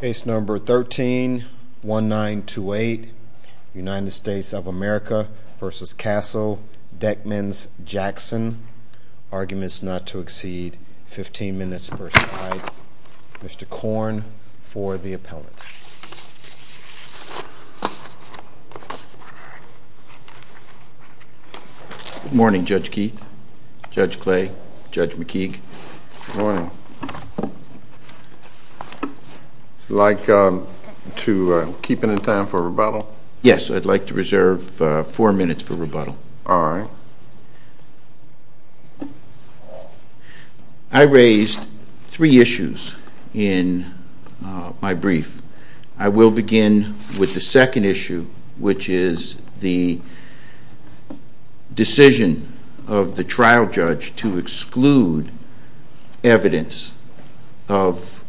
Case number 13-1928, United States of America v. Castle, Deckman's, Jackson, Arguments Not to Exceed, 15 minutes versus 5. Mr. Korn for the appellate. Good morning, Judge Keith, Judge Clay, Judge McKeague. Good morning. Would you like to keep any time for rebuttal? Yes, I'd like to reserve 4 minutes for rebuttal. I raised three issues in my brief. I will begin with the second issue, which is the decision of the trial judge to exclude evidence of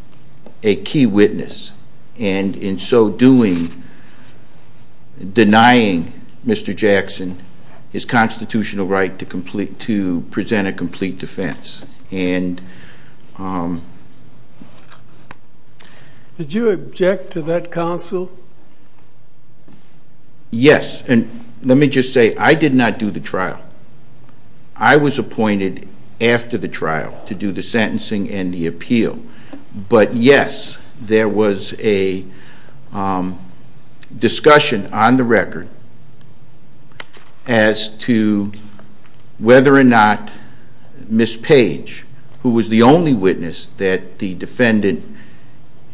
a key witness, and in so doing, denying Mr. Jackson his constitutional right to present a complete defense. Did you object to that counsel? Yes, and let me just say, I did not do the trial. I was appointed after the trial to do the sentencing and the appeal, but yes, there was a discussion on the record as to whether or not Ms. Page, who was the only witness that the defendant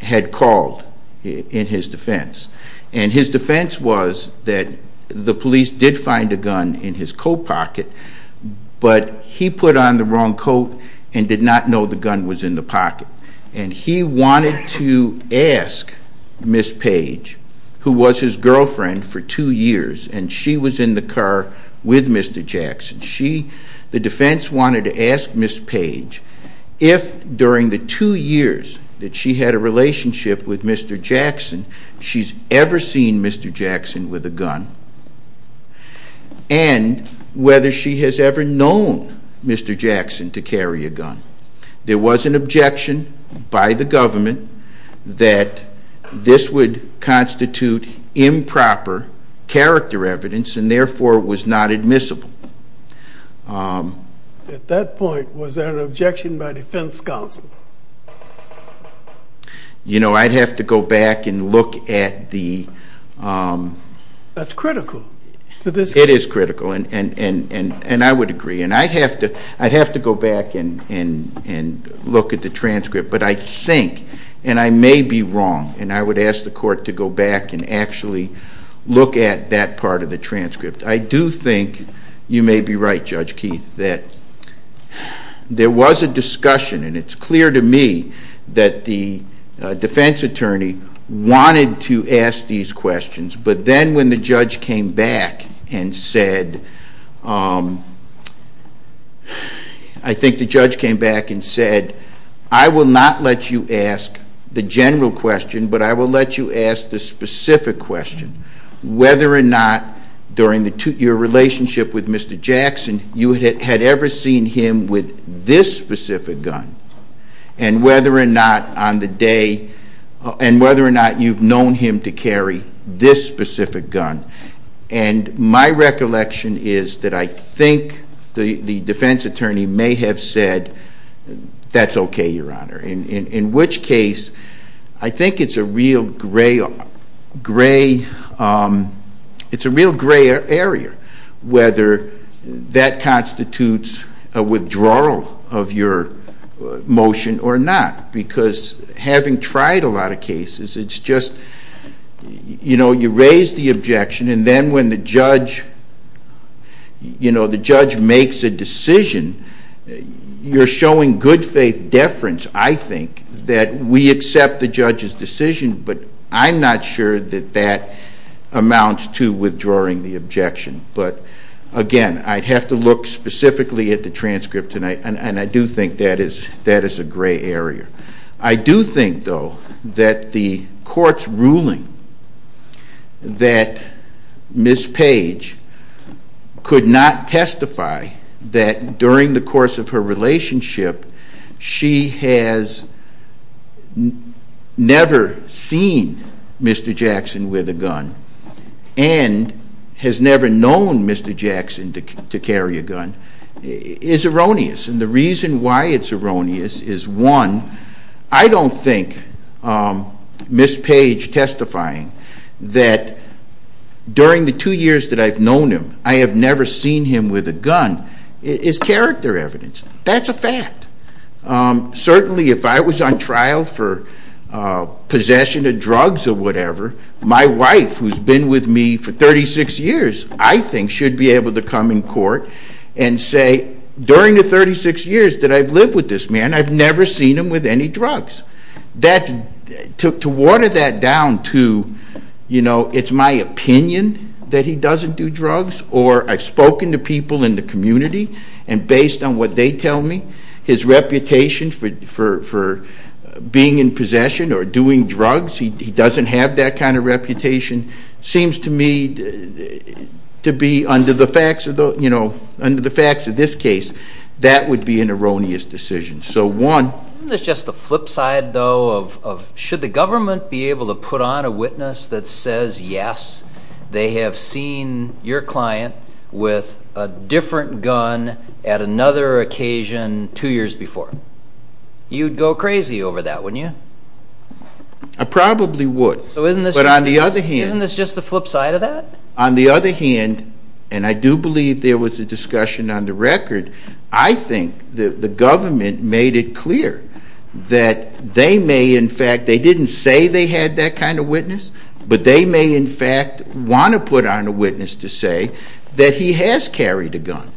had called in his defense, and his defense was that the police did find a gun in his coat pocket, but he put on the wrong coat and did not know the gun was in the pocket, and he wanted to ask Ms. Page, who was his girlfriend for two years, and she was in the car with Mr. Jackson, the defense wanted to ask Ms. Page if, during the two years that she had a relationship with Mr. Jackson, she's ever seen Mr. Jackson with a gun, and whether she has ever known Mr. Jackson to carry a gun. There was an objection by the government that this would constitute improper character evidence, and therefore was not admissible. At that point, was there an objection by defense counsel? You know, I'd have to go back and look at the... That's critical to this case. It is critical, and I would agree, and I'd have to go back and look at the transcript, but I think, and I may be wrong, and I would ask the court to go back and actually look at that part of the transcript. I do think you may be right, Judge Keith, that there was a discussion, and it's clear to me that the defense attorney wanted to ask these questions, but then when the judge came back and said... Whether or not, during your relationship with Mr. Jackson, you had ever seen him with this specific gun, and whether or not you've known him to carry this specific gun, and my recollection is that I think the defense attorney may have said, That's okay, Your Honor, in which case, I think it's a real gray area, whether that constitutes a withdrawal of your motion or not, because having tried a lot of cases, it's just... You know, you raise the objection, and then when the judge makes a decision, you're showing good faith deference, I think, that we accept the judge's decision, but I'm not sure that that amounts to withdrawing the objection. But, again, I'd have to look specifically at the transcript, and I do think that is a gray area. I do think, though, that the court's ruling that Ms. Page could not testify that during the course of her relationship, she has never seen Mr. Jackson with a gun, and has never known Mr. Jackson to carry a gun, is erroneous. And the reason why it's erroneous is, one, I don't think Ms. Page testifying that during the two years that I've known him, I have never seen him with a gun, is character evidence. That's a fact. Certainly, if I was on trial for possession of drugs or whatever, my wife, who's been with me for 36 years, I think, should be able to come in court and say, during the 36 years that I've lived with this man, I've never seen him with any drugs. To water that down to, you know, it's my opinion that he doesn't do drugs, or I've spoken to people in the community, and based on what they tell me, his reputation for being in possession or doing drugs, he doesn't have that kind of reputation, seems to me to be, under the facts of this case, that would be an erroneous decision. Isn't this just the flip side, though, of should the government be able to put on a witness that says, yes, they have seen your client with a different gun at another occasion two years before? You'd go crazy over that, wouldn't you? I probably would. But on the other hand... Isn't this just the flip side of that? And I do believe there was a discussion on the record. I think the government made it clear that they may, in fact, they didn't say they had that kind of witness, but they may, in fact, want to put on a witness to say that he has carried a gun.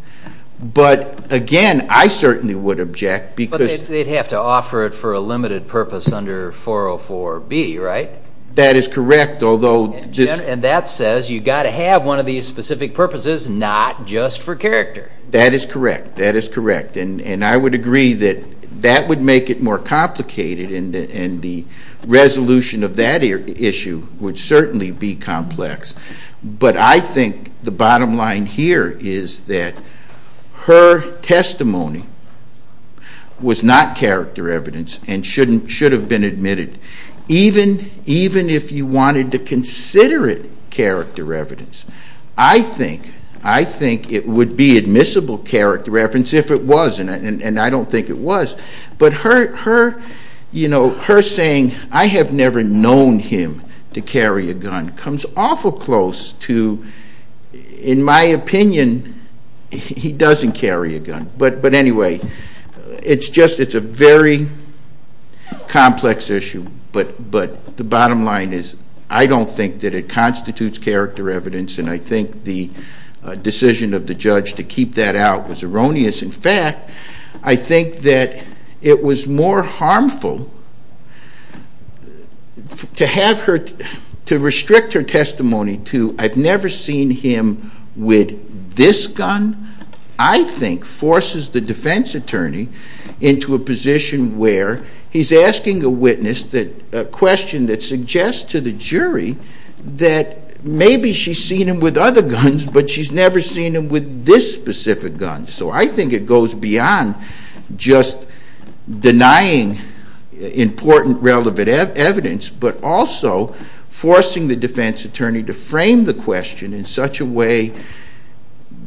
But, again, I certainly would object because... But they'd have to offer it for a limited purpose under 404B, right? That is correct, although... And that says you've got to have one of these specific purposes, not just for character. That is correct. That is correct. And I would agree that that would make it more complicated, and the resolution of that issue would certainly be complex. But I think the bottom line here is that her testimony was not character evidence and should have been admitted, even if you wanted to consider it character evidence. I think it would be admissible character evidence if it was, and I don't think it was. But her saying, I have never known him to carry a gun, comes awful close to, in my opinion, he doesn't carry a gun. But, anyway, it's a very complex issue, but the bottom line is I don't think that it constitutes character evidence, and I think the decision of the judge to keep that out was erroneous. In fact, I think that it was more harmful to restrict her testimony to, I've never seen him with this gun, I think forces the defense attorney into a position where he's asking a witness a question that suggests to the jury that maybe she's seen him with other guns, but she's never seen him with this specific gun. So I think it goes beyond just denying important relevant evidence, but also forcing the defense attorney to frame the question in such a way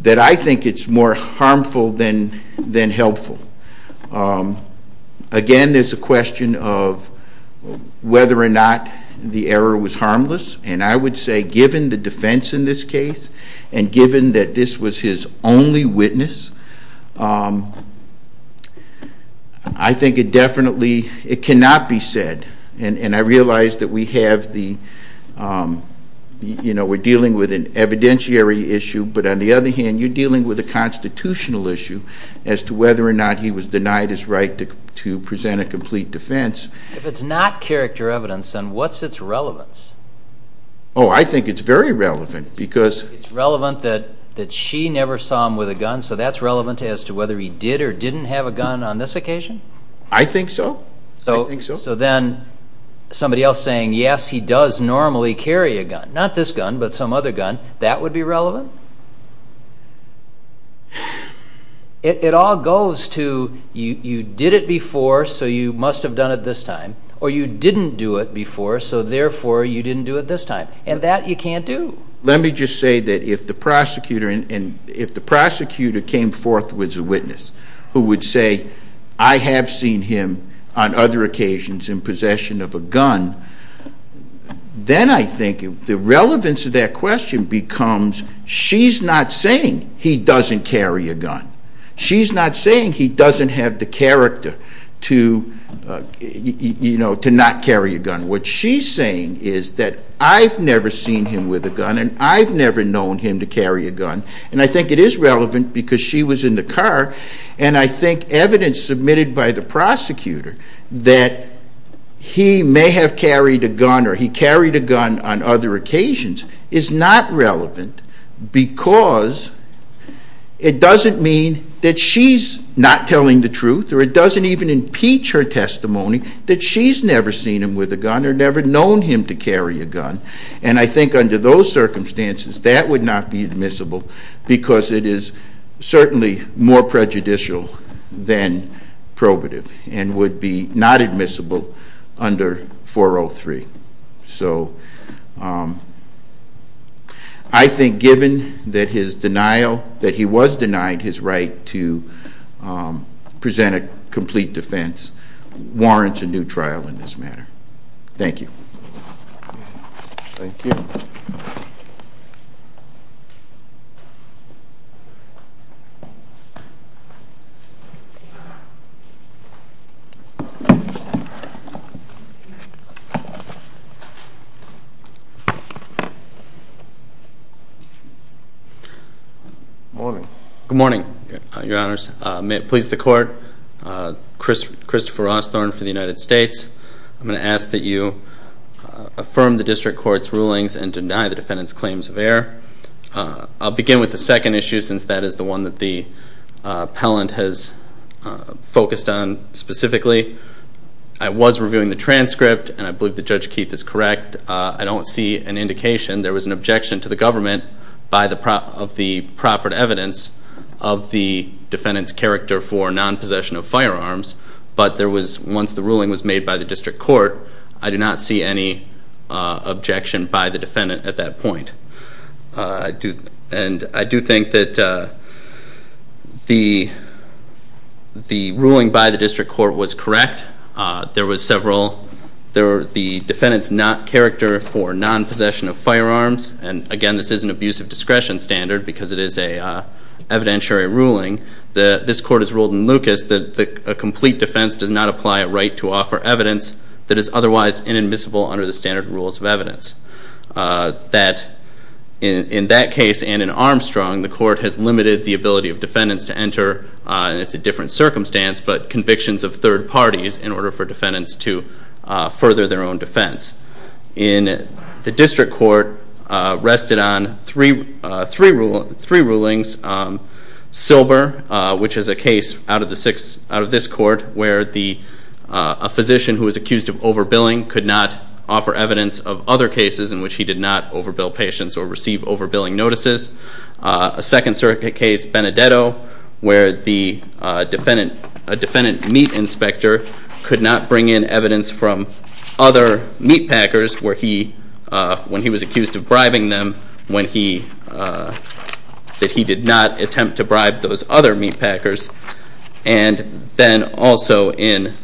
that I think it's more harmful than helpful. Again, there's a question of whether or not the error was harmless, and I would say given the defense in this case, and given that this was his only witness, I think it definitely, it cannot be said, and I realize that we have the, you know, we're dealing with an evidentiary issue, but on the other hand, you're dealing with a constitutional issue as to whether or not he was denied his right to present a complete defense. If it's not character evidence, then what's its relevance? Oh, I think it's very relevant because... It's relevant that she never saw him with a gun, so that's relevant as to whether he did or didn't have a gun on this occasion? I think so. So then somebody else saying, yes, he does normally carry a gun, not this gun, but some other gun, that would be relevant? It all goes to you did it before, so you must have done it this time, or you didn't do it before, so therefore you didn't do it this time, and that you can't do. Let me just say that if the prosecutor came forth with a witness who would say, I have seen him on other occasions in possession of a gun, then I think the relevance of that question becomes she's not saying he doesn't carry a gun. She's not saying he doesn't have the character to, you know, to not carry a gun. What she's saying is that I've never seen him with a gun and I've never known him to carry a gun, and I think it is relevant because she was in the car, and I think evidence submitted by the prosecutor that he may have carried a gun or he carried a gun on other occasions is not relevant because it doesn't mean that she's not telling the truth or it doesn't even impeach her testimony that she's never seen him with a gun. Or never known him to carry a gun, and I think under those circumstances that would not be admissible because it is certainly more prejudicial than probative and would be not admissible under 403. So I think given that his denial, that he was denied his right to present a complete defense warrants a new trial in this matter. Thank you. Thank you. Good morning. Good morning, your honors. May it please the court, Christopher Osthorn for the United States. I'm going to ask that you affirm the district court's rulings and deny the defendant's claims of error. I'll begin with the second issue since that is the one that the appellant has focused on specifically. I was reviewing the transcript and I believe that Judge Keith is correct. I don't see an indication there was an objection to the government of the proper evidence of the defendant's character for non-possession of firearms. But once the ruling was made by the district court, I did not see any objection by the defendant at that point. And I do think that the ruling by the district court was correct. That there was several, the defendant's character for non-possession of firearms, and again this is an abuse of discretion standard because it is an evidentiary ruling. This court has ruled in Lucas that a complete defense does not apply a right to offer evidence that is otherwise inadmissible under the standard rules of evidence. That in that case and in Armstrong, the court has limited the ability of defendants to enter. And it's a different circumstance, but convictions of third parties in order for defendants to further their own defense. In the district court rested on three rulings. Silber, which is a case out of this court where a physician who was accused of overbilling could not offer evidence of other cases in which he did not overbill patients or receive overbilling notices. A second circuit case, Benedetto, where a defendant meat inspector could not bring in evidence from other meat packers when he was accused of bribing them, that he did not attempt to bribe those other meat packers. And then also in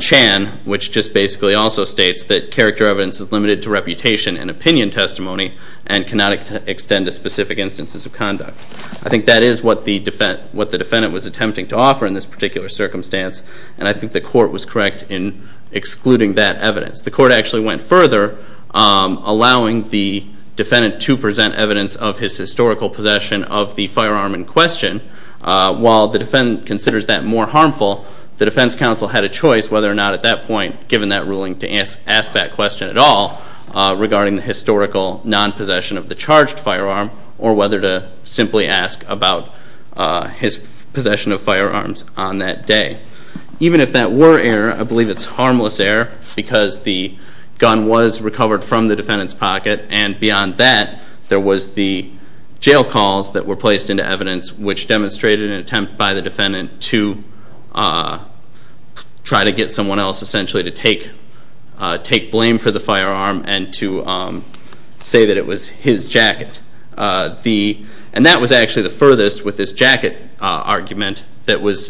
Chan, which just basically also states that character evidence is limited to reputation and opinion testimony and cannot extend to specific instances of conduct. I think that is what the defendant was attempting to offer in this particular circumstance. And I think the court was correct in excluding that evidence. The court actually went further, allowing the defendant to present evidence of his historical possession of the firearm in question. While the defendant considers that more harmful, the defense counsel had a choice whether or not at that point, given that ruling, to ask that question at all regarding the historical non-possession of the charged firearm or whether to simply ask about his possession of firearms on that day. Even if that were error, I believe it's harmless error because the gun was recovered from the defendant's pocket and beyond that there was the jail calls that were placed into evidence, which demonstrated an attempt by the defendant to try to get someone else essentially to take blame for the firearm and to say that it was his jacket. And that was actually the furthest with this jacket argument that was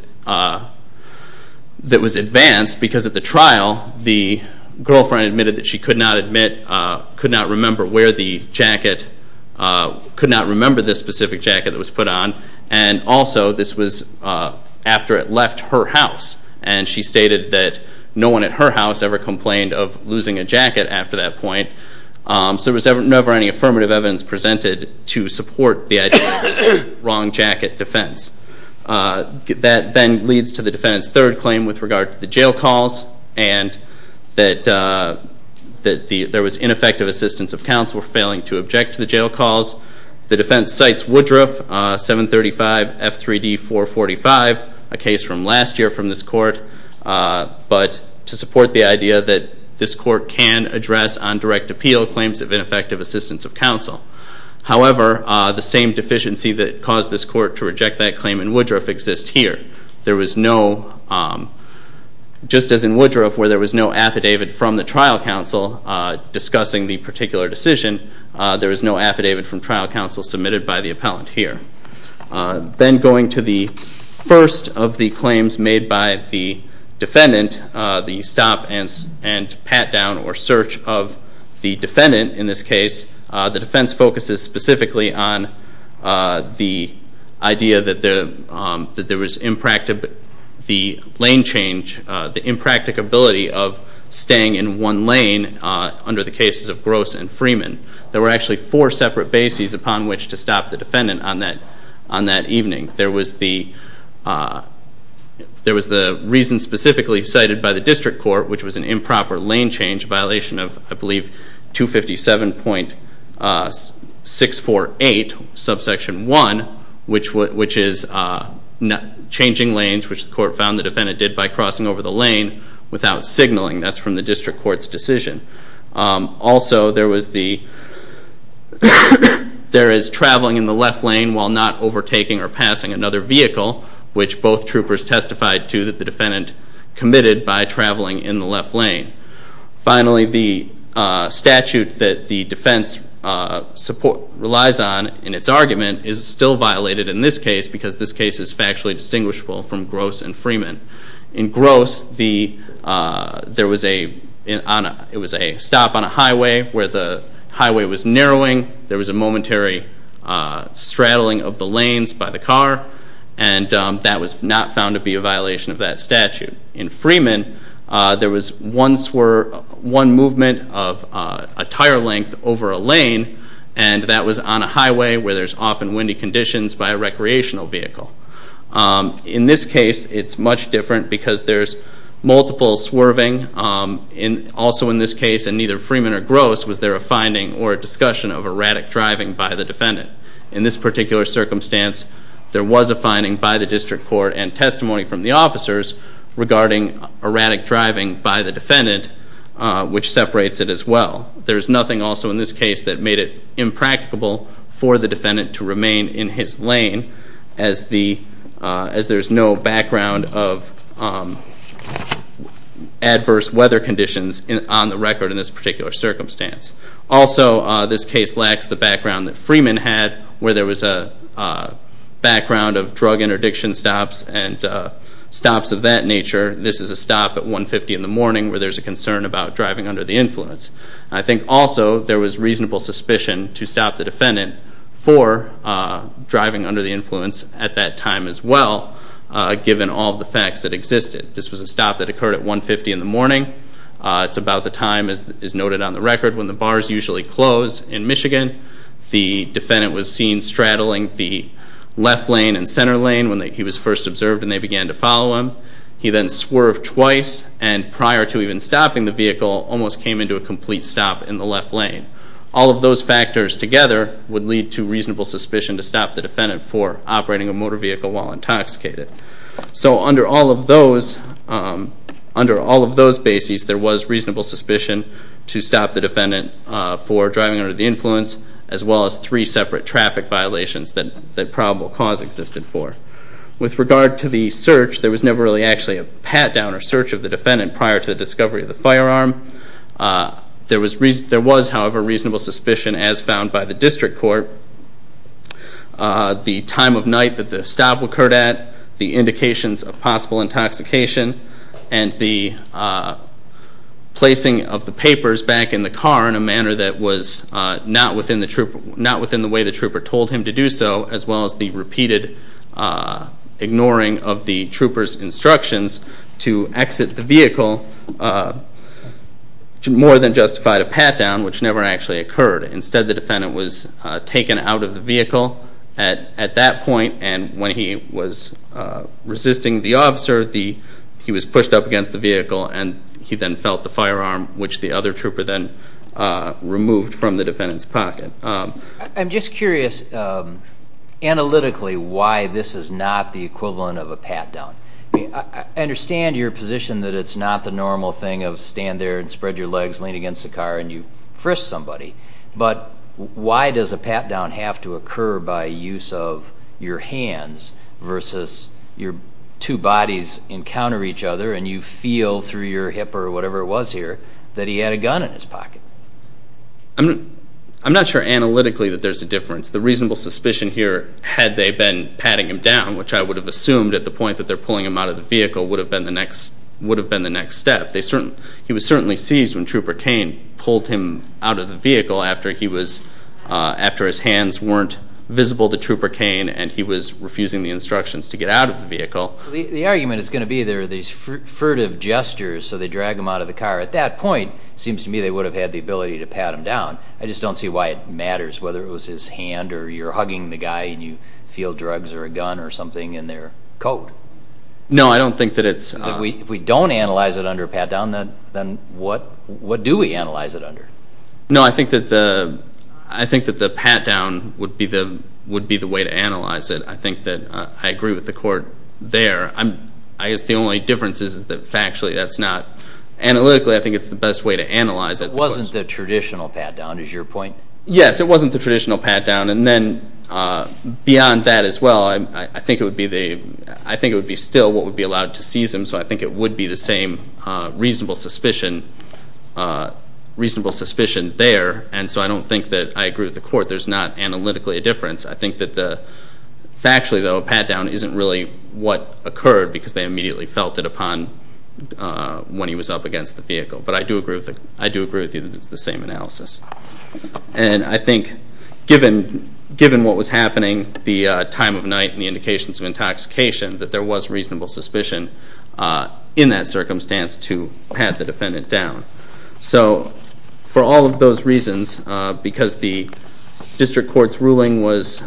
advanced because at the trial the girlfriend admitted that she could not remember where the jacket, could not remember the specific jacket that was put on. And also this was after it left her house. And she stated that no one at her house ever complained of losing a jacket after that point. So there was never any affirmative evidence presented to support the wrong jacket defense. That then leads to the defendant's third claim with regard to the jail calls and that there was ineffective assistance of counsel for failing to object to the jail calls. The defense cites Woodruff, 735 F3D 445, a case from last year from this court, but to support the idea that this court can address on direct appeal claims of ineffective assistance of counsel. However, the same deficiency that caused this court to reject that claim in Woodruff exists here. There was no, just as in Woodruff where there was no affidavit from the trial counsel discussing the particular decision, there was no affidavit from trial counsel submitted by the appellant here. Then going to the first of the claims made by the defendant, the stop and pat down or search of the defendant in this case, the defense focuses specifically on the idea that there was the lane change, the impracticability of staying in one lane under the cases of Gross and Freeman. There were actually four separate bases upon which to stop the defendant on that evening. There was the reason specifically cited by the district court, which was an improper lane change, a violation of, I believe, 257.648, subsection 1, which is changing lanes, which the court found the defendant did by crossing over the lane without signaling. That's from the district court's decision. Also, there is traveling in the left lane while not overtaking or passing another vehicle, which both troopers testified to that the defendant committed by traveling in the left lane. Finally, the statute that the defense relies on in its argument is still violated in this case because this case is factually distinguishable from Gross and Freeman. In Gross, there was a stop on a highway where the highway was narrowing. There was a momentary straddling of the lanes by the car. And that was not found to be a violation of that statute. In Freeman, there was one movement of a tire length over a lane, and that was on a highway where there's often windy conditions by a recreational vehicle. In this case, it's much different because there's multiple swerving. Also in this case, in neither Freeman or Gross, was there a finding or a discussion of erratic driving by the defendant. In this particular circumstance, there was a finding by the district court and testimony from the officers regarding erratic driving by the defendant, which separates it as well. There's nothing also in this case that made it impracticable for the defendant to remain in his lane as there's no background of adverse weather conditions on the record in this particular circumstance. Also, this case lacks the background that Freeman had, where there was a background of drug interdiction stops and stops of that nature. This is a stop at 150 in the morning where there's a concern about driving under the influence. I think also there was reasonable suspicion to stop the defendant for driving under the influence at that time as well, given all the facts that existed. It's about the time as noted on the record when the bars usually close in Michigan. The defendant was seen straddling the left lane and center lane when he was first observed and they began to follow him. He then swerved twice and prior to even stopping the vehicle, almost came into a complete stop in the left lane. All of those factors together would lead to reasonable suspicion to stop the defendant for operating a motor vehicle while intoxicated. So under all of those bases, there was reasonable suspicion to stop the defendant for driving under the influence as well as three separate traffic violations that probable cause existed for. With regard to the search, there was never really actually a pat-down or search of the defendant prior to the discovery of the firearm. There was, however, reasonable suspicion as found by the district court. The time of night that the stop occurred at, the indications of possible intoxication, and the placing of the papers back in the car in a manner that was not within the way the trooper told him to do so, as well as the repeated ignoring of the trooper's instructions to exit the vehicle more than justified a pat-down, which never actually occurred. Instead, the defendant was taken out of the vehicle at that point, and when he was resisting the officer, he was pushed up against the vehicle, and he then felt the firearm, which the other trooper then removed from the defendant's pocket. I'm just curious analytically why this is not the equivalent of a pat-down. I understand your position that it's not the normal thing of stand there and spread your legs, lean against the car, and you frisk somebody, but why does a pat-down have to occur by use of your hands versus your two bodies encounter each other, and you feel through your hip or whatever it was here that he had a gun in his pocket? I'm not sure analytically that there's a difference. The reasonable suspicion here, had they been patting him down, which I would have assumed at the point that they're pulling him out of the vehicle, would have been the next step. He was certainly seized when Trooper Cain pulled him out of the vehicle after his hands weren't visible to Trooper Cain and he was refusing the instructions to get out of the vehicle. The argument is going to be there are these furtive gestures, so they drag him out of the car. At that point, it seems to me they would have had the ability to pat him down. I just don't see why it matters whether it was his hand or you're hugging the guy and you feel drugs or a gun or something in their coat. No, I don't think that it's... If we don't analyze it under a pat-down, then what do we analyze it under? No, I think that the pat-down would be the way to analyze it. I think that I agree with the court there. I guess the only difference is that factually that's not... Analytically, I think it's the best way to analyze it. It wasn't the traditional pat-down, is your point? Yes, it wasn't the traditional pat-down, and then beyond that as well, I think it would be still what would be allowed to seize him, so I think it would be the same reasonable suspicion there, and so I don't think that I agree with the court. There's not analytically a difference. I think that factually, though, a pat-down isn't really what occurred because they immediately felt it upon when he was up against the vehicle. But I do agree with you that it's the same analysis. And I think given what was happening, the time of night and the indications of intoxication, that there was reasonable suspicion in that circumstance to pat the defendant down. So for all of those reasons, because the district court's ruling was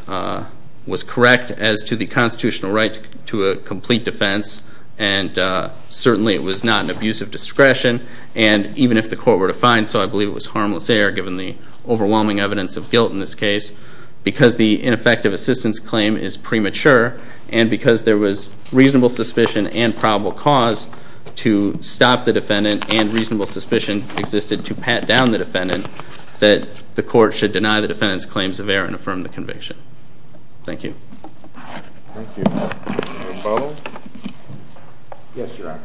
correct as to the constitutional right to a complete defense, and certainly it was not an abuse of discretion, and even if the court were to find so, I believe it was harmless error given the overwhelming evidence of guilt in this case, because the ineffective assistance claim is premature and because there was reasonable suspicion and probable cause to stop the defendant and reasonable suspicion existed to pat down the defendant, that the court should deny the defendant's claims of error and affirm the conviction. Thank you. Thank you. Rebuttal? Yes, Your Honor.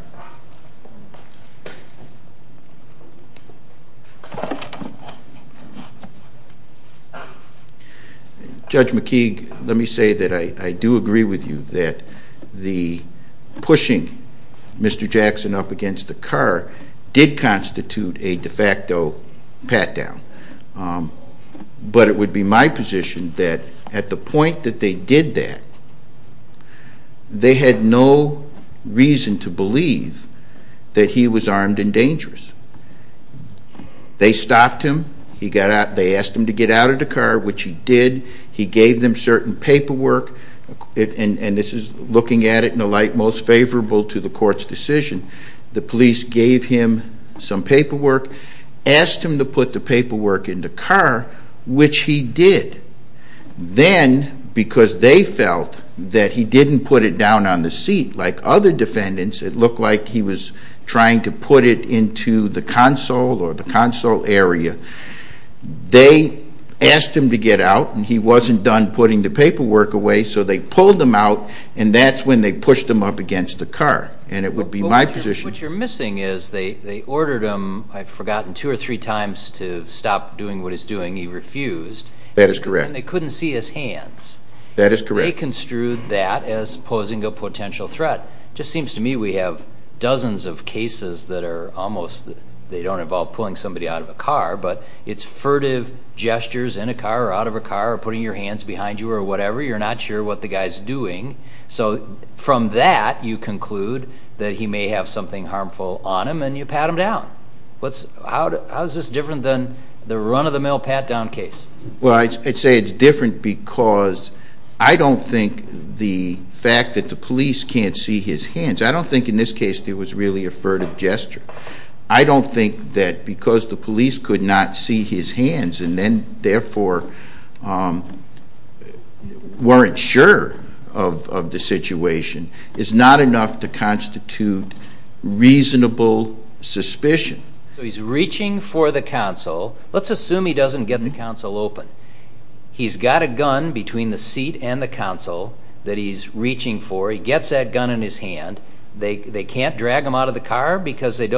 Judge McKeague, let me say that I do agree with you that the pushing Mr. Jackson up against the car did constitute a de facto pat-down. But it would be my position that at the point that they did that, they had no reason to believe that he was armed and dangerous. They stopped him. They asked him to get out of the car, which he did. He gave them certain paperwork, and this is looking at it in a light most favorable to the court's decision. The police gave him some paperwork, asked him to put the paperwork in the car, which he did. Then, because they felt that he didn't put it down on the seat like other defendants, it looked like he was trying to put it into the console or the console area, they asked him to get out, and he wasn't done putting the paperwork away, so they pulled him out, and that's when they pushed him up against the car. And it would be my position. What you're missing is they ordered him, I've forgotten, two or three times to stop doing what he's doing. He refused. That is correct. And they couldn't see his hands. That is correct. They construed that as posing a potential threat. It just seems to me we have dozens of cases that are almost, they don't involve pulling somebody out of a car, but it's furtive gestures in a car or out of a car or putting your hands behind you or whatever. You're not sure what the guy's doing. So from that you conclude that he may have something harmful on him and you pat him down. How is this different than the run-of-the-mill pat-down case? Well, I'd say it's different because I don't think the fact that the police can't see his hands, I don't think in this case there was really a furtive gesture. I don't think that because the police could not see his hands and then therefore weren't sure of the situation is not enough to constitute reasonable suspicion. So he's reaching for the console. Let's assume he doesn't get the console open. He's got a gun between the seat and the console that he's reaching for. He gets that gun in his hand. They can't drag him out of the car because they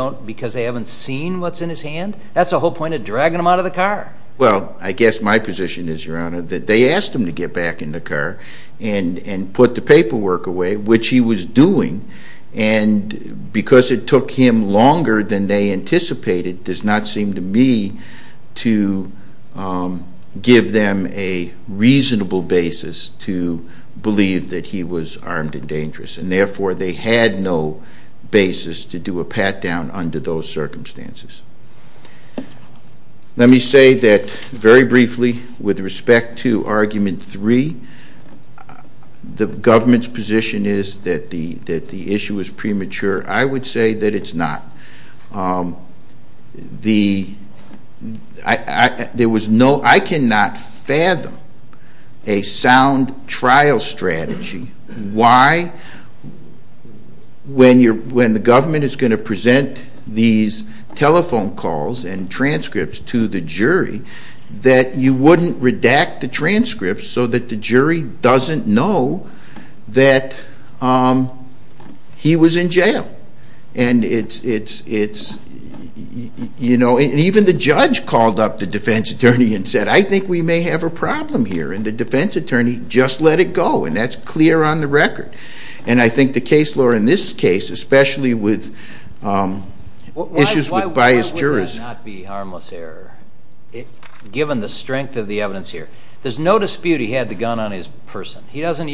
haven't seen what's in his hand? That's the whole point of dragging him out of the car. Well, I guess my position is, Your Honor, that they asked him to get back in the car and put the paperwork away, which he was doing, and because it took him longer than they anticipated does not seem to me to give them a reasonable basis to believe that he was armed and dangerous, and therefore they had no basis to do a pat-down under those circumstances. Let me say that, very briefly, with respect to Argument 3, the government's position is that the issue is premature. I would say that it's not. I cannot fathom a sound trial strategy. Why, when the government is going to present these telephone calls and transcripts to the jury, that you wouldn't redact the transcripts so that the jury doesn't know that he was in jail? Even the judge called up the defense attorney and said, I think we may have a problem here, and the defense attorney just let it go, and that's clear on the record. And I think the case law in this case, especially with issues with biased jurors Why would that not be harmless error, given the strength of the evidence here? There's no dispute he had the gun on his person. He doesn't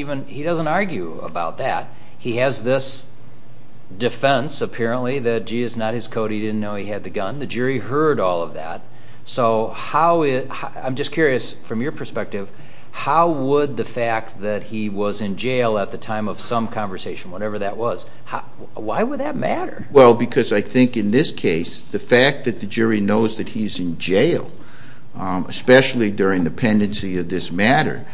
argue about that. He has this defense, apparently, that, gee, it's not his code, he didn't know he had the gun. The jury heard all of that. So I'm just curious, from your perspective, how would the fact that he was in jail at the time of some conversation, whatever that was, why would that matter? Well, because I think in this case, the fact that the jury knows that he's in jail, especially during the pendency of this matter,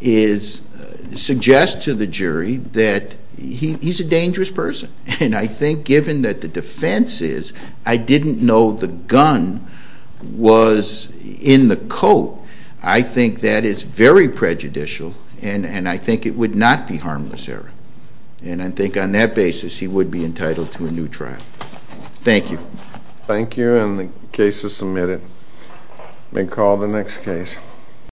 suggests to the jury that he's a dangerous person. And I think given that the defense is, I didn't know the gun was in the coat, I think that is very prejudicial, and I think it would not be harmless error. And I think on that basis, he would be entitled to a new trial. Thank you. Thank you, and the case is submitted. May call the next case.